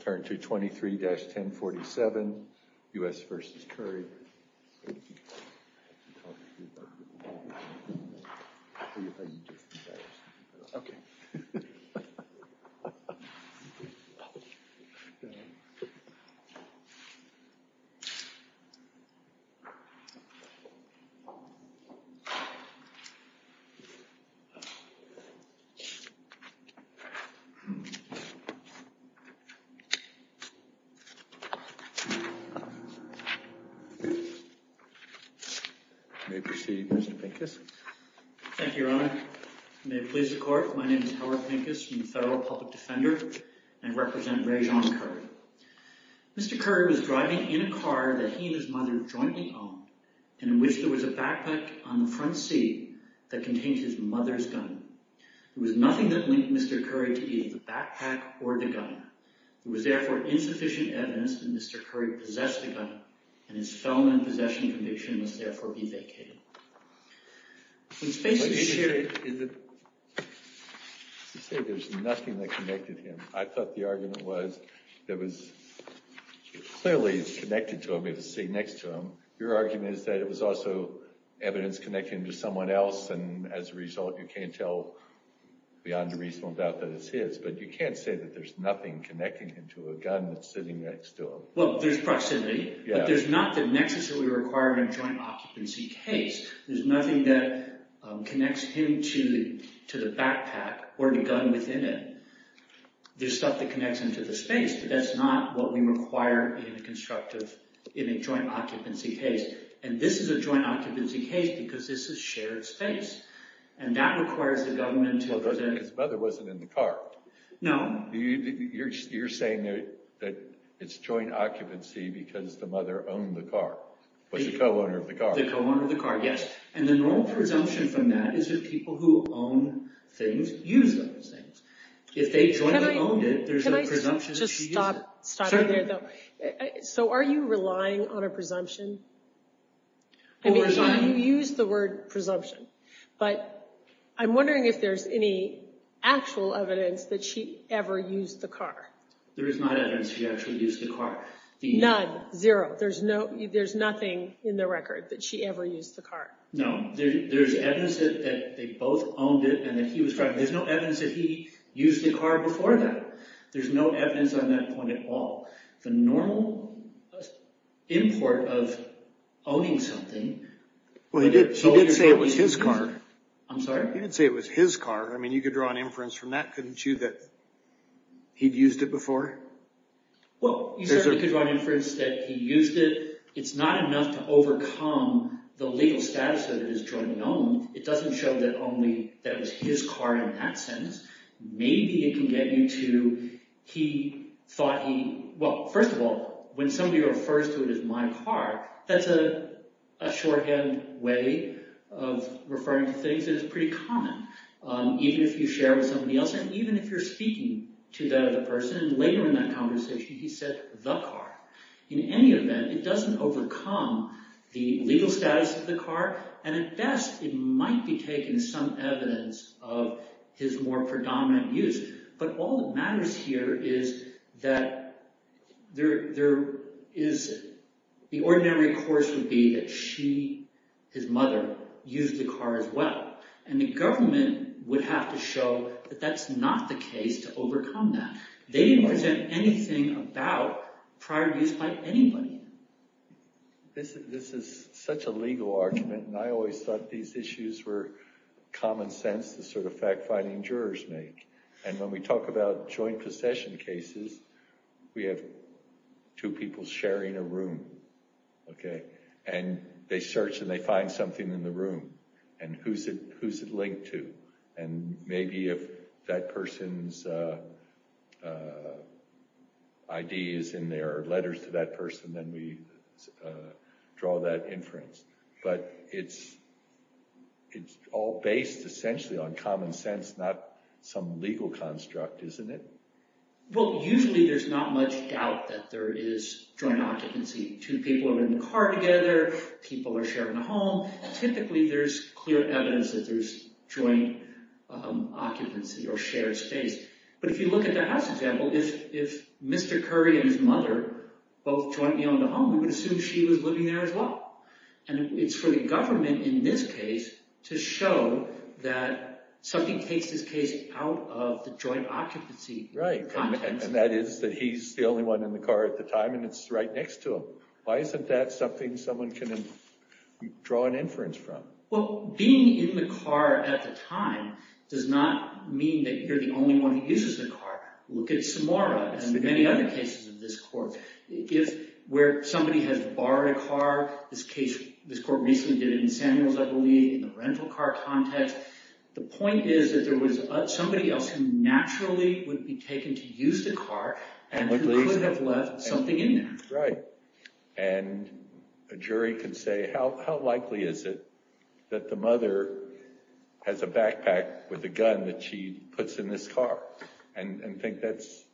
Turn to 23-1047 U.S. v. Curry Howard Pincus, Federal Public Defender There is insufficient evidence that Mr. Curry possessed a gun and his felony possession conviction must therefore be vacated. There is proximity, but there is not the necessary requirement of a joint occupancy case. There is nothing that connects him to the backpack or the gun within it. There is stuff that connects him to the space, but that is not what we require in a joint occupancy case. And this is a joint occupancy case because this is shared space. And that requires the government to... Well, because his mother wasn't in the car. No. You're saying that it's joint occupancy because the mother owned the car, was a co-owner of the car. The co-owner of the car, yes. And the normal presumption from that is that people who own things use those things. If they jointly owned it, there's a presumption to use it. Can I just stop? Certainly. So are you relying on a presumption? Well, we're trying... But I'm wondering if there's any actual evidence that she ever used the car. There is not evidence she actually used the car. None, zero. There's nothing in the record that she ever used the car. No. There's evidence that they both owned it and that he was driving it. There's no evidence that he used the car before that. There's no evidence on that point at all. The normal import of owning something... I'm sorry? You didn't say it was his car. I mean, you could draw an inference from that, couldn't you, that he'd used it before? Well, you certainly could draw an inference that he used it. It's not enough to overcome the legal status of it as jointly owned. It doesn't show that only that it was his car in that sense. Maybe it can get you to he thought he... Well, first of all, when somebody refers to it as my car, that's a shorthand way of referring to things that is pretty common, even if you share it with somebody else, and even if you're speaking to that other person, and later in that conversation he said the car. In any event, it doesn't overcome the legal status of the car, and at best it might be taking some evidence of his more predominant use. But all that matters here is that there is... The ordinary course would be that she, his mother, used the car as well, and the government would have to show that that's not the case to overcome that. They didn't present anything about prior use by anybody. This is such a legal argument, and I always thought these issues were common sense, the sort of fact-finding jurors make, and when we talk about joint possession cases, we have two people sharing a room, and they search and they find something in the room, and who's it linked to, and maybe if that person's ID is in there or letters to that person, then we draw that inference. But it's all based essentially on common sense, not some legal construct, isn't it? Well, usually there's not much doubt that there is joint occupancy. Two people are in the car together, people are sharing a home, typically there's clear evidence that there's joint occupancy or shared space. But if you look at the house example, if Mr. Curry and his mother both jointly owned a home, we would assume she was living there as well. And it's for the government in this case to show that something takes this case out of the joint occupancy context. And that is that he's the only one in the car at the time, and it's right next to him. Why isn't that something someone can draw an inference from? Well, being in the car at the time does not mean that you're the only one who uses the car. Look at Samora and many other cases of this court. Where somebody has borrowed a car, this court recently did it in Samuels, I believe, in the rental car context. The point is that there was somebody else who naturally would be taken to use the car and who could have left something in there. Right. And a jury could say, how likely is it that the mother has a backpack with a gun that she puts in this car? And think that's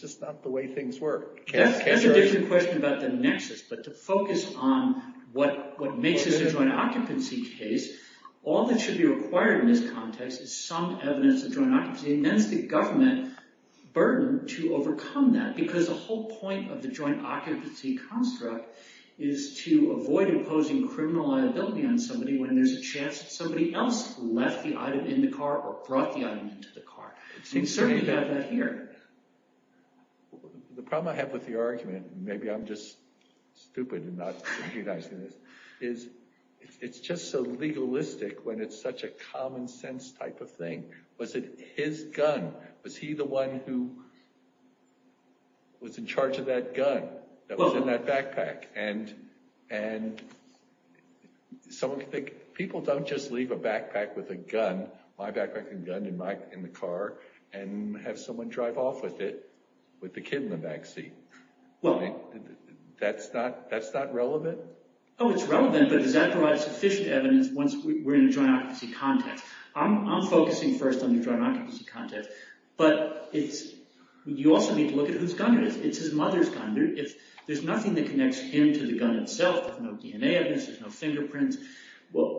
just not the way things work. That's a different question about the nexus. But to focus on what makes this a joint occupancy case, all that should be required in this context is some evidence of joint occupancy. And then it's the government burden to overcome that because the whole point of the joint occupancy construct is to avoid imposing criminal liability on somebody when there's a chance that somebody else left the item in the car or brought the item into the car. And certainly you have that here. The problem I have with the argument, maybe I'm just stupid in not recognizing this, is it's just so legalistic when it's such a common-sense type of thing. Was it his gun? Was he the one who was in charge of that gun that was in that backpack? And so people don't just leave a backpack with a gun, my backpack and gun in the car, and have someone drive off with it, with the kid in the back seat. That's not relevant? Oh, it's relevant, but does that provide sufficient evidence once we're in a joint occupancy context? I'm focusing first on the joint occupancy context, but you also need to look at whose gun it is. It's his mother's gun. There's nothing that connects him to the gun itself. There's no DNA evidence. There's no fingerprints.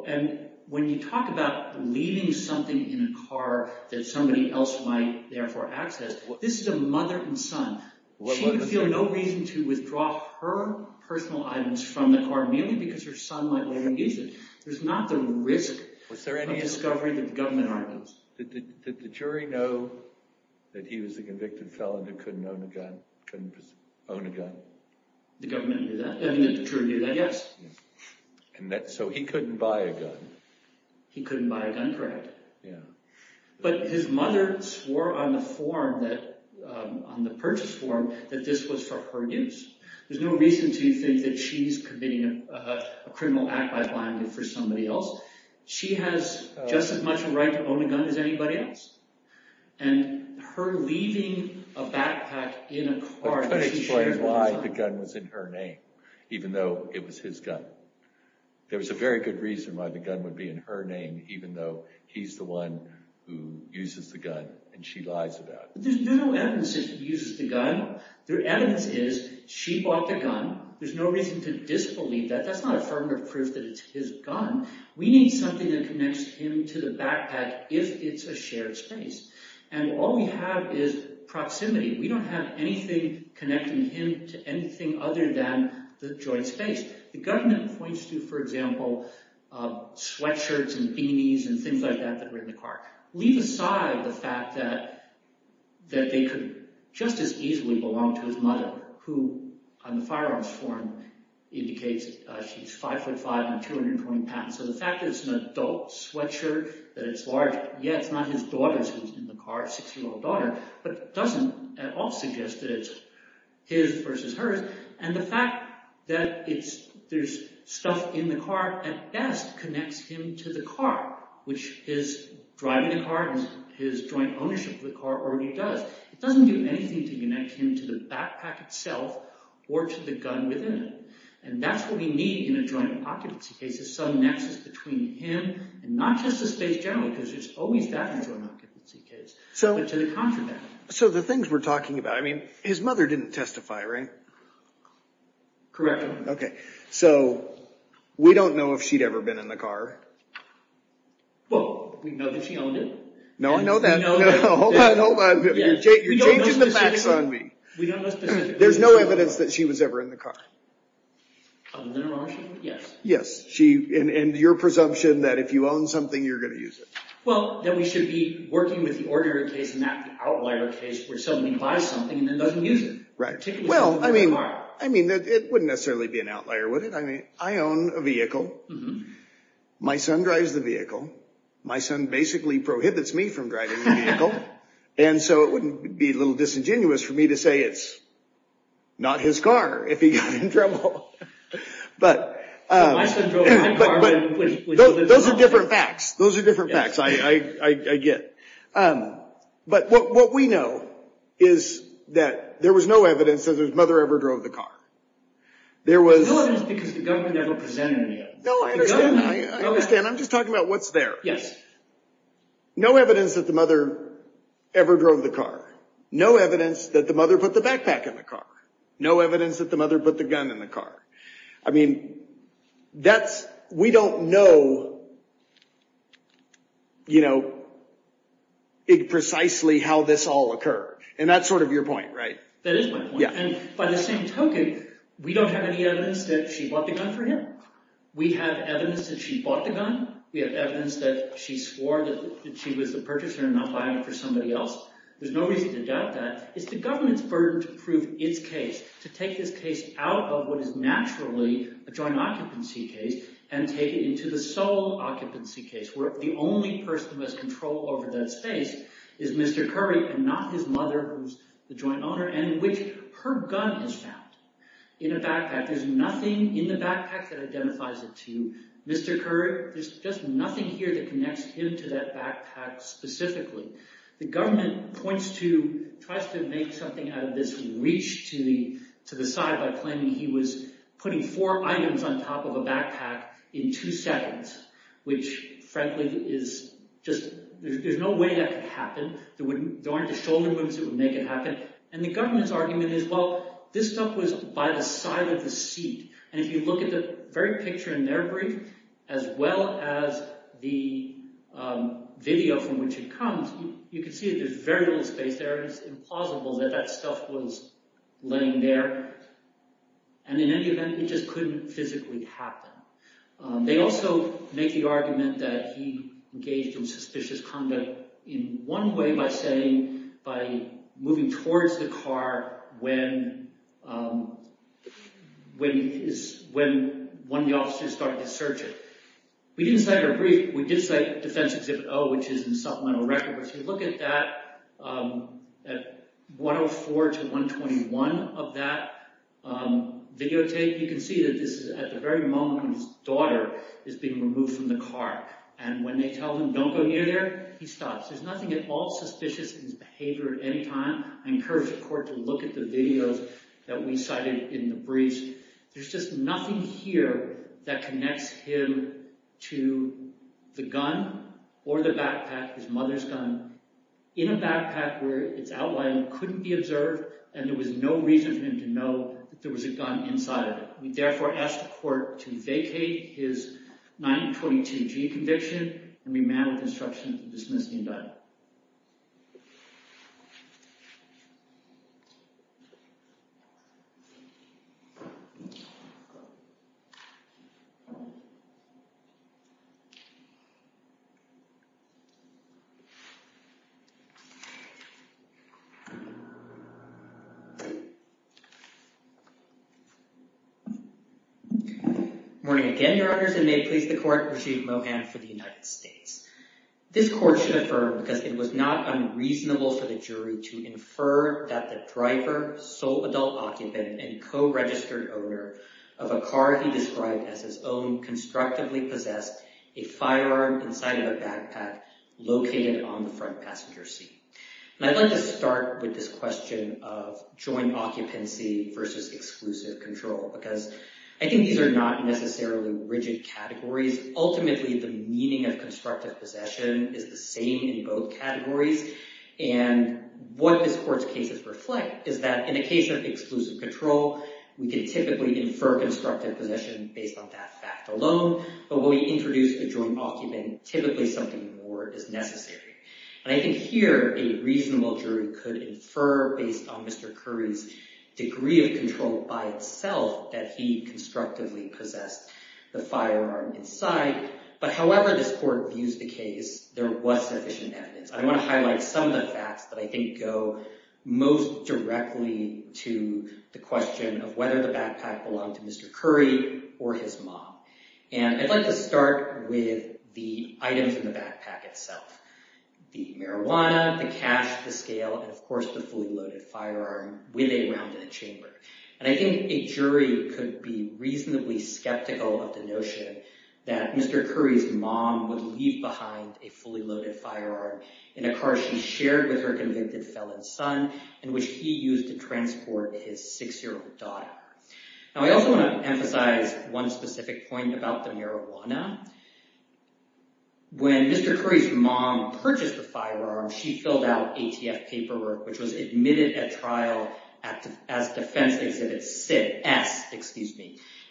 And when you talk about leaving something in a car that somebody else might therefore access, this is a mother and son. She would feel no reason to withdraw her personal items from the car, mainly because her son might later use it. There's not the risk of discovery that the government argues. Did the jury know that he was a convicted felon that couldn't own a gun? The government knew that. The jury knew that, yes. So he couldn't buy a gun. He couldn't buy a gun, correct. But his mother swore on the form, on the purchase form, that this was for her use. There's no reason to think that she's committing a criminal act by buying it for somebody else. She has just as much a right to own a gun as anybody else. And her leaving a backpack in a car... I could explain why the gun was in her name, even though it was his gun. There was a very good reason why the gun would be in her name, even though he's the one who uses the gun, and she lies about it. There's no evidence that he uses the gun. The evidence is she bought the gun. There's no reason to disbelieve that. That's not affirmative proof that it's his gun. We need something that connects him to the backpack if it's a shared space. And all we have is proximity. We don't have anything connecting him to anything other than the joint space. The government points to, for example, sweatshirts and beanies and things like that that were in the car. Leave aside the fact that they could just as easily belong to his mother, who on the firearms form indicates she's 5'5 and 220 pounds. So the fact that it's an adult sweatshirt, that it's large, yeah, it's not his daughter's who's in the car, a six-year-old daughter, but doesn't at all suggest that it's his versus hers. And the fact that there's stuff in the car at best connects him to the car, which his driving the car and his joint ownership of the car already does. It doesn't do anything to connect him to the backpack itself or to the gun within it. And that's what we need in a joint occupancy case is some nexus between him and not just the space generally, because there's always that in a joint occupancy case, but to the contraband. So the things we're talking about, I mean, his mother didn't testify, right? Correct. OK. So we don't know if she'd ever been in the car. Well, we know that she owned it. No, I know that. Hold on, hold on. You're changing the facts on me. There's no evidence that she was ever in the car. Other than her ownership? Yes. Yes. And your presumption that if you own something, you're going to use it. Well, then we should be working with the ordinary case and not the outlier case where somebody buys something and then doesn't use it. Right. Well, I mean, it wouldn't necessarily be an outlier, would it? I own a vehicle. My son drives the vehicle. My son basically prohibits me from driving the vehicle. And so it wouldn't be a little disingenuous for me to say it's not his car if he got in trouble. But those are different facts. Those are different facts, I get. But what we know is that there was no evidence that his mother ever drove the car. There was. No evidence because the government never presented any evidence. No, I understand. I understand. I'm just talking about what's there. Yes. No evidence that the mother ever drove the car. No evidence that the mother put the backpack in the car. No evidence that the mother put the gun in the car. I mean, we don't know precisely how this all occurred. And that's sort of your point, right? That is my point. And by the same token, we don't have any evidence that she bought the gun for him. We have evidence that she bought the gun. We have evidence that she swore that she was the purchaser and not buying it for somebody else. There's no reason to doubt that. It's the government's burden to prove its case, to take this case out of what is naturally a joint occupancy case and take it into the sole occupancy case where the only person who has control over that space is Mr. Curry and not his mother, who's the joint owner, and which her gun is found in a backpack. There's nothing in the backpack that identifies it to Mr. Curry. There's just nothing here that connects him to that backpack specifically. The government tries to make something out of this to reach to the side by claiming he was putting four items on top of a backpack in two seconds, which, frankly, is just... There's no way that could happen. There aren't the shoulder booms that would make it happen. And the government's argument is, well, this stuff was by the side of the seat. And if you look at the very picture in their brief as well as the video from which it comes, you can see that there's very little space there. It's implausible that that stuff was laying there. And in any event, it just couldn't physically happen. They also make the argument that he engaged in suspicious conduct in one way by saying, by moving towards the car when one of the officers started to search it. We didn't cite our brief. We did cite Defense Exhibit O, which is in supplemental record. If you look at that, at 104 to 121 of that videotape, you can see that this is at the very moment when his daughter is being removed from the car. And when they tell him, don't go near there, he stops. There's nothing at all suspicious in his behavior at any time. I encourage the court to look at the videos that we cited in the briefs. There's just nothing here that connects him to the gun or the backpack, his mother's gun, in a backpack where its outline couldn't be observed and there was no reason for him to know that there was a gun inside of it. We therefore ask the court to vacate his 922G conviction and remand with instruction to dismiss the indictment. Morning again, Your Honors, and may it please the court, Rajiv Mohan for the United States. This court should affirm, because it was not unreasonable for the jury to infer that the driver, sole adult occupant, and co-registered owner of a car he described as his own constructively possessed a firearm inside of a backpack located on the front passenger seat. And I'd like to start with this question of joint occupancy versus exclusive control, because I think these are not necessarily rigid categories. Ultimately, the meaning of constructive possession is the same in both categories, and what this court's cases reflect is that in a case of exclusive control, we can typically infer constructive possession based on that fact alone, but when we introduce a joint occupant, typically something more is necessary. And I think here, a reasonable jury could infer based on Mr. Curry's degree of control by itself that he constructively possessed the firearm inside, but however this court views the case, there was sufficient evidence. I want to highlight some of the facts that I think go most directly to the question of whether the backpack belonged to Mr. Curry or his mom. And I'd like to start with the items in the backpack itself. The marijuana, the cash, the scale, and of course the fully loaded firearm with a round in the chamber. And I think a jury could be reasonably skeptical of the notion that Mr. Curry's mom would leave behind a fully loaded firearm in a car she shared with her convicted felon's son, and which he used to transport his six-year-old daughter. Now I also want to emphasize one specific point about the marijuana. When Mr. Curry's mom purchased the firearm, she filled out ATF paperwork which was admitted at trial as defense exhibit S.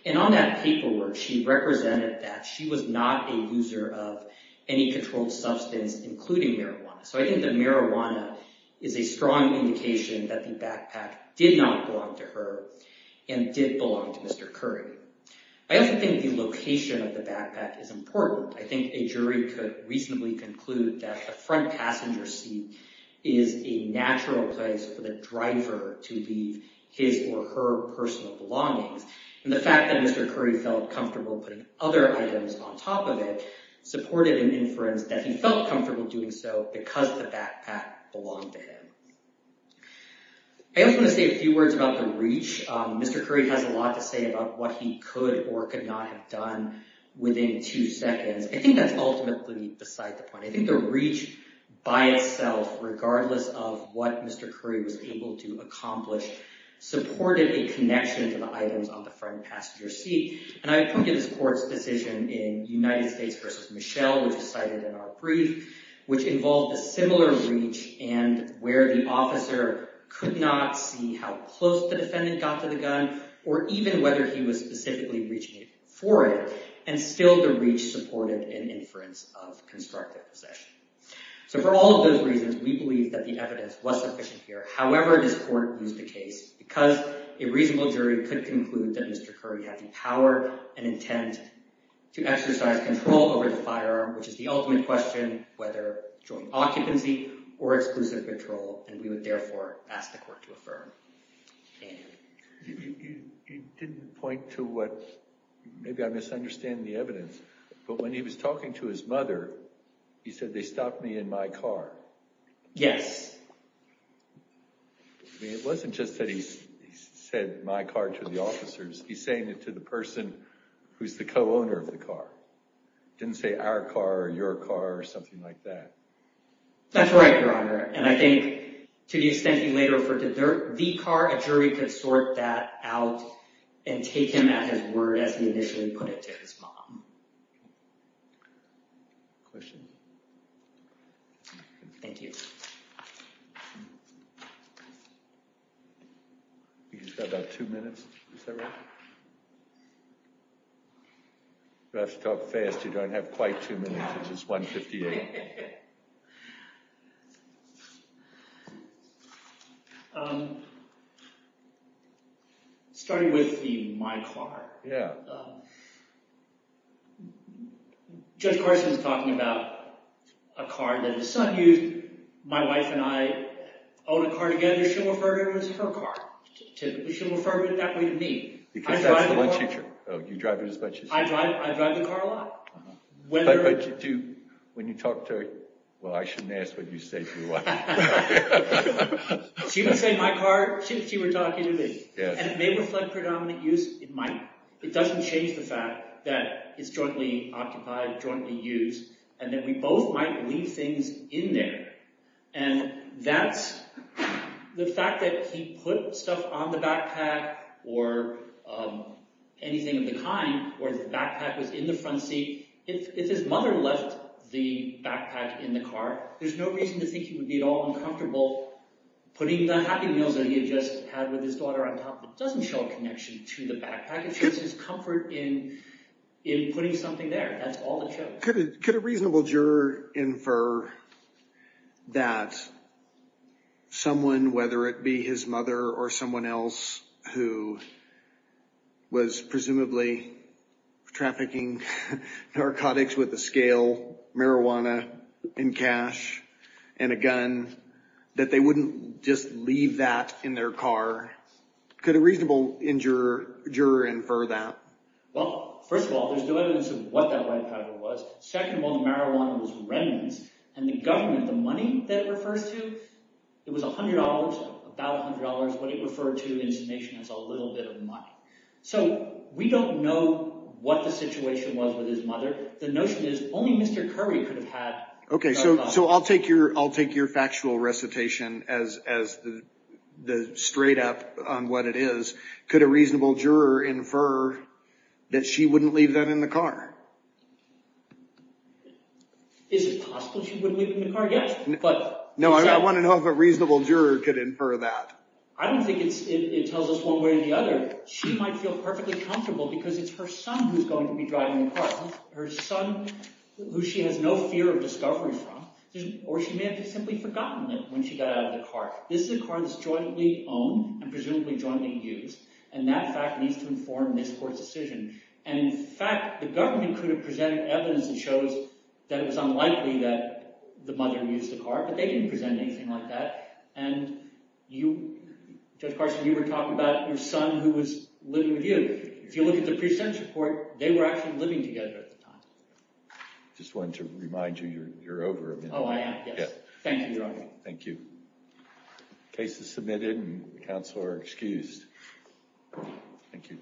And on that paperwork, she represented that she was not a user of any controlled substance, including marijuana. So I think the marijuana is a strong indication that the backpack did not belong to her and did belong to Mr. Curry. I also think the location of the backpack is important. I think a jury could reasonably conclude that a front passenger seat is a natural place for the driver to leave his or her personal belongings. And the fact that Mr. Curry felt comfortable putting other items on top of it supported an inference that he felt comfortable doing so because the backpack belonged to him. I also want to say a few words about the reach. Mr. Curry has a lot to say about what he could or could not have done within two seconds. I think that's ultimately beside the point. I think the reach by itself, regardless of what Mr. Curry was able to accomplish, supported a connection to the items on the front passenger seat. And I pointed this court's decision in United States v. Michelle, which is cited in our brief, which involved a similar reach and where the officer could not see how close the defendant got to the gun or even whether he was specifically reaching for it, and still the reach supported an inference of constructive possession. So for all of those reasons, we believe that the evidence was sufficient here. However, this court used the case because a reasonable jury could conclude that Mr. Curry had the power and intent to exercise control over the firearm, which is the ultimate question, whether joint occupancy or exclusive patrol, and we would therefore ask the court to affirm. You didn't point to what – maybe I'm misunderstanding the evidence, but when he was talking to his mother, he said, they stopped me in my car. Yes. I mean, it wasn't just that he said my car to the officers. He's saying it to the person who's the co-owner of the car. He didn't say our car or your car or something like that. That's right, Your Honor, and I think to the extent he later referred to the car, a jury could sort that out and take him at his word as he initially put it to his mom. Questions? Thank you. He's got about two minutes. Is that right? You have to talk fast. You don't have quite two minutes. It's 1.58. Yeah. Judge Carson is talking about a car that his son used. My wife and I own a car together. She'll refer to it as her car. She'll refer to it that way to me. Because that's the one she – you drive it as much as she does. I drive the car a lot. But when you talk to her, well, I shouldn't ask what you say to your wife. She would say my car. She would talk to me. And it may reflect predominant use. It might. It doesn't change the fact that it's jointly occupied, jointly used, and that we both might leave things in there. And that's the fact that he put stuff on the backpack or anything of the kind where the backpack was in the front seat. If his mother left the backpack in the car, there's no reason to think he would be at all uncomfortable putting the Happy Meals that he had just had with his daughter on top. It doesn't show a connection to the backpack. It shows his comfort in putting something there. That's all it shows. Could a reasonable juror infer that someone, whether it be his mother or someone else who was presumably trafficking narcotics with a scale, marijuana in cash, and a gun, that they wouldn't just leave that in their car? Could a reasonable juror infer that? Well, first of all, there's no evidence of what that white powder was. Second of all, the marijuana was remnants. And the government, the money that it refers to, it was $100, about $100, what it referred to in summation as a little bit of money. So we don't know what the situation was with his mother. The notion is only Mr. Curry could have had a gun. Okay, so I'll take your factual recitation as the straight up on what it is. Could a reasonable juror infer that she wouldn't leave that in the car? Is it possible she wouldn't leave it in the car? Yes. No, I want to know if a reasonable juror could infer that. I don't think it tells us one way or the other. She might feel perfectly comfortable because it's her son who's going to be driving the car. Her son who she has no fear of discovery from. Or she may have simply forgotten it when she got out of the car. This is a car that's jointly owned and presumably jointly used. And that fact needs to inform this court's decision. And in fact, the government could have presented evidence that shows that it was unlikely that the mother used the car. But they didn't present anything like that. And Judge Carson, you were talking about your son who was living with you. If you look at the pre-sentence report, they were actually living together at the time. I just wanted to remind you you're over a minute. Oh, I am, yes. Thank you, Your Honor. Thank you. Case is submitted and counsel are excused. Thank you.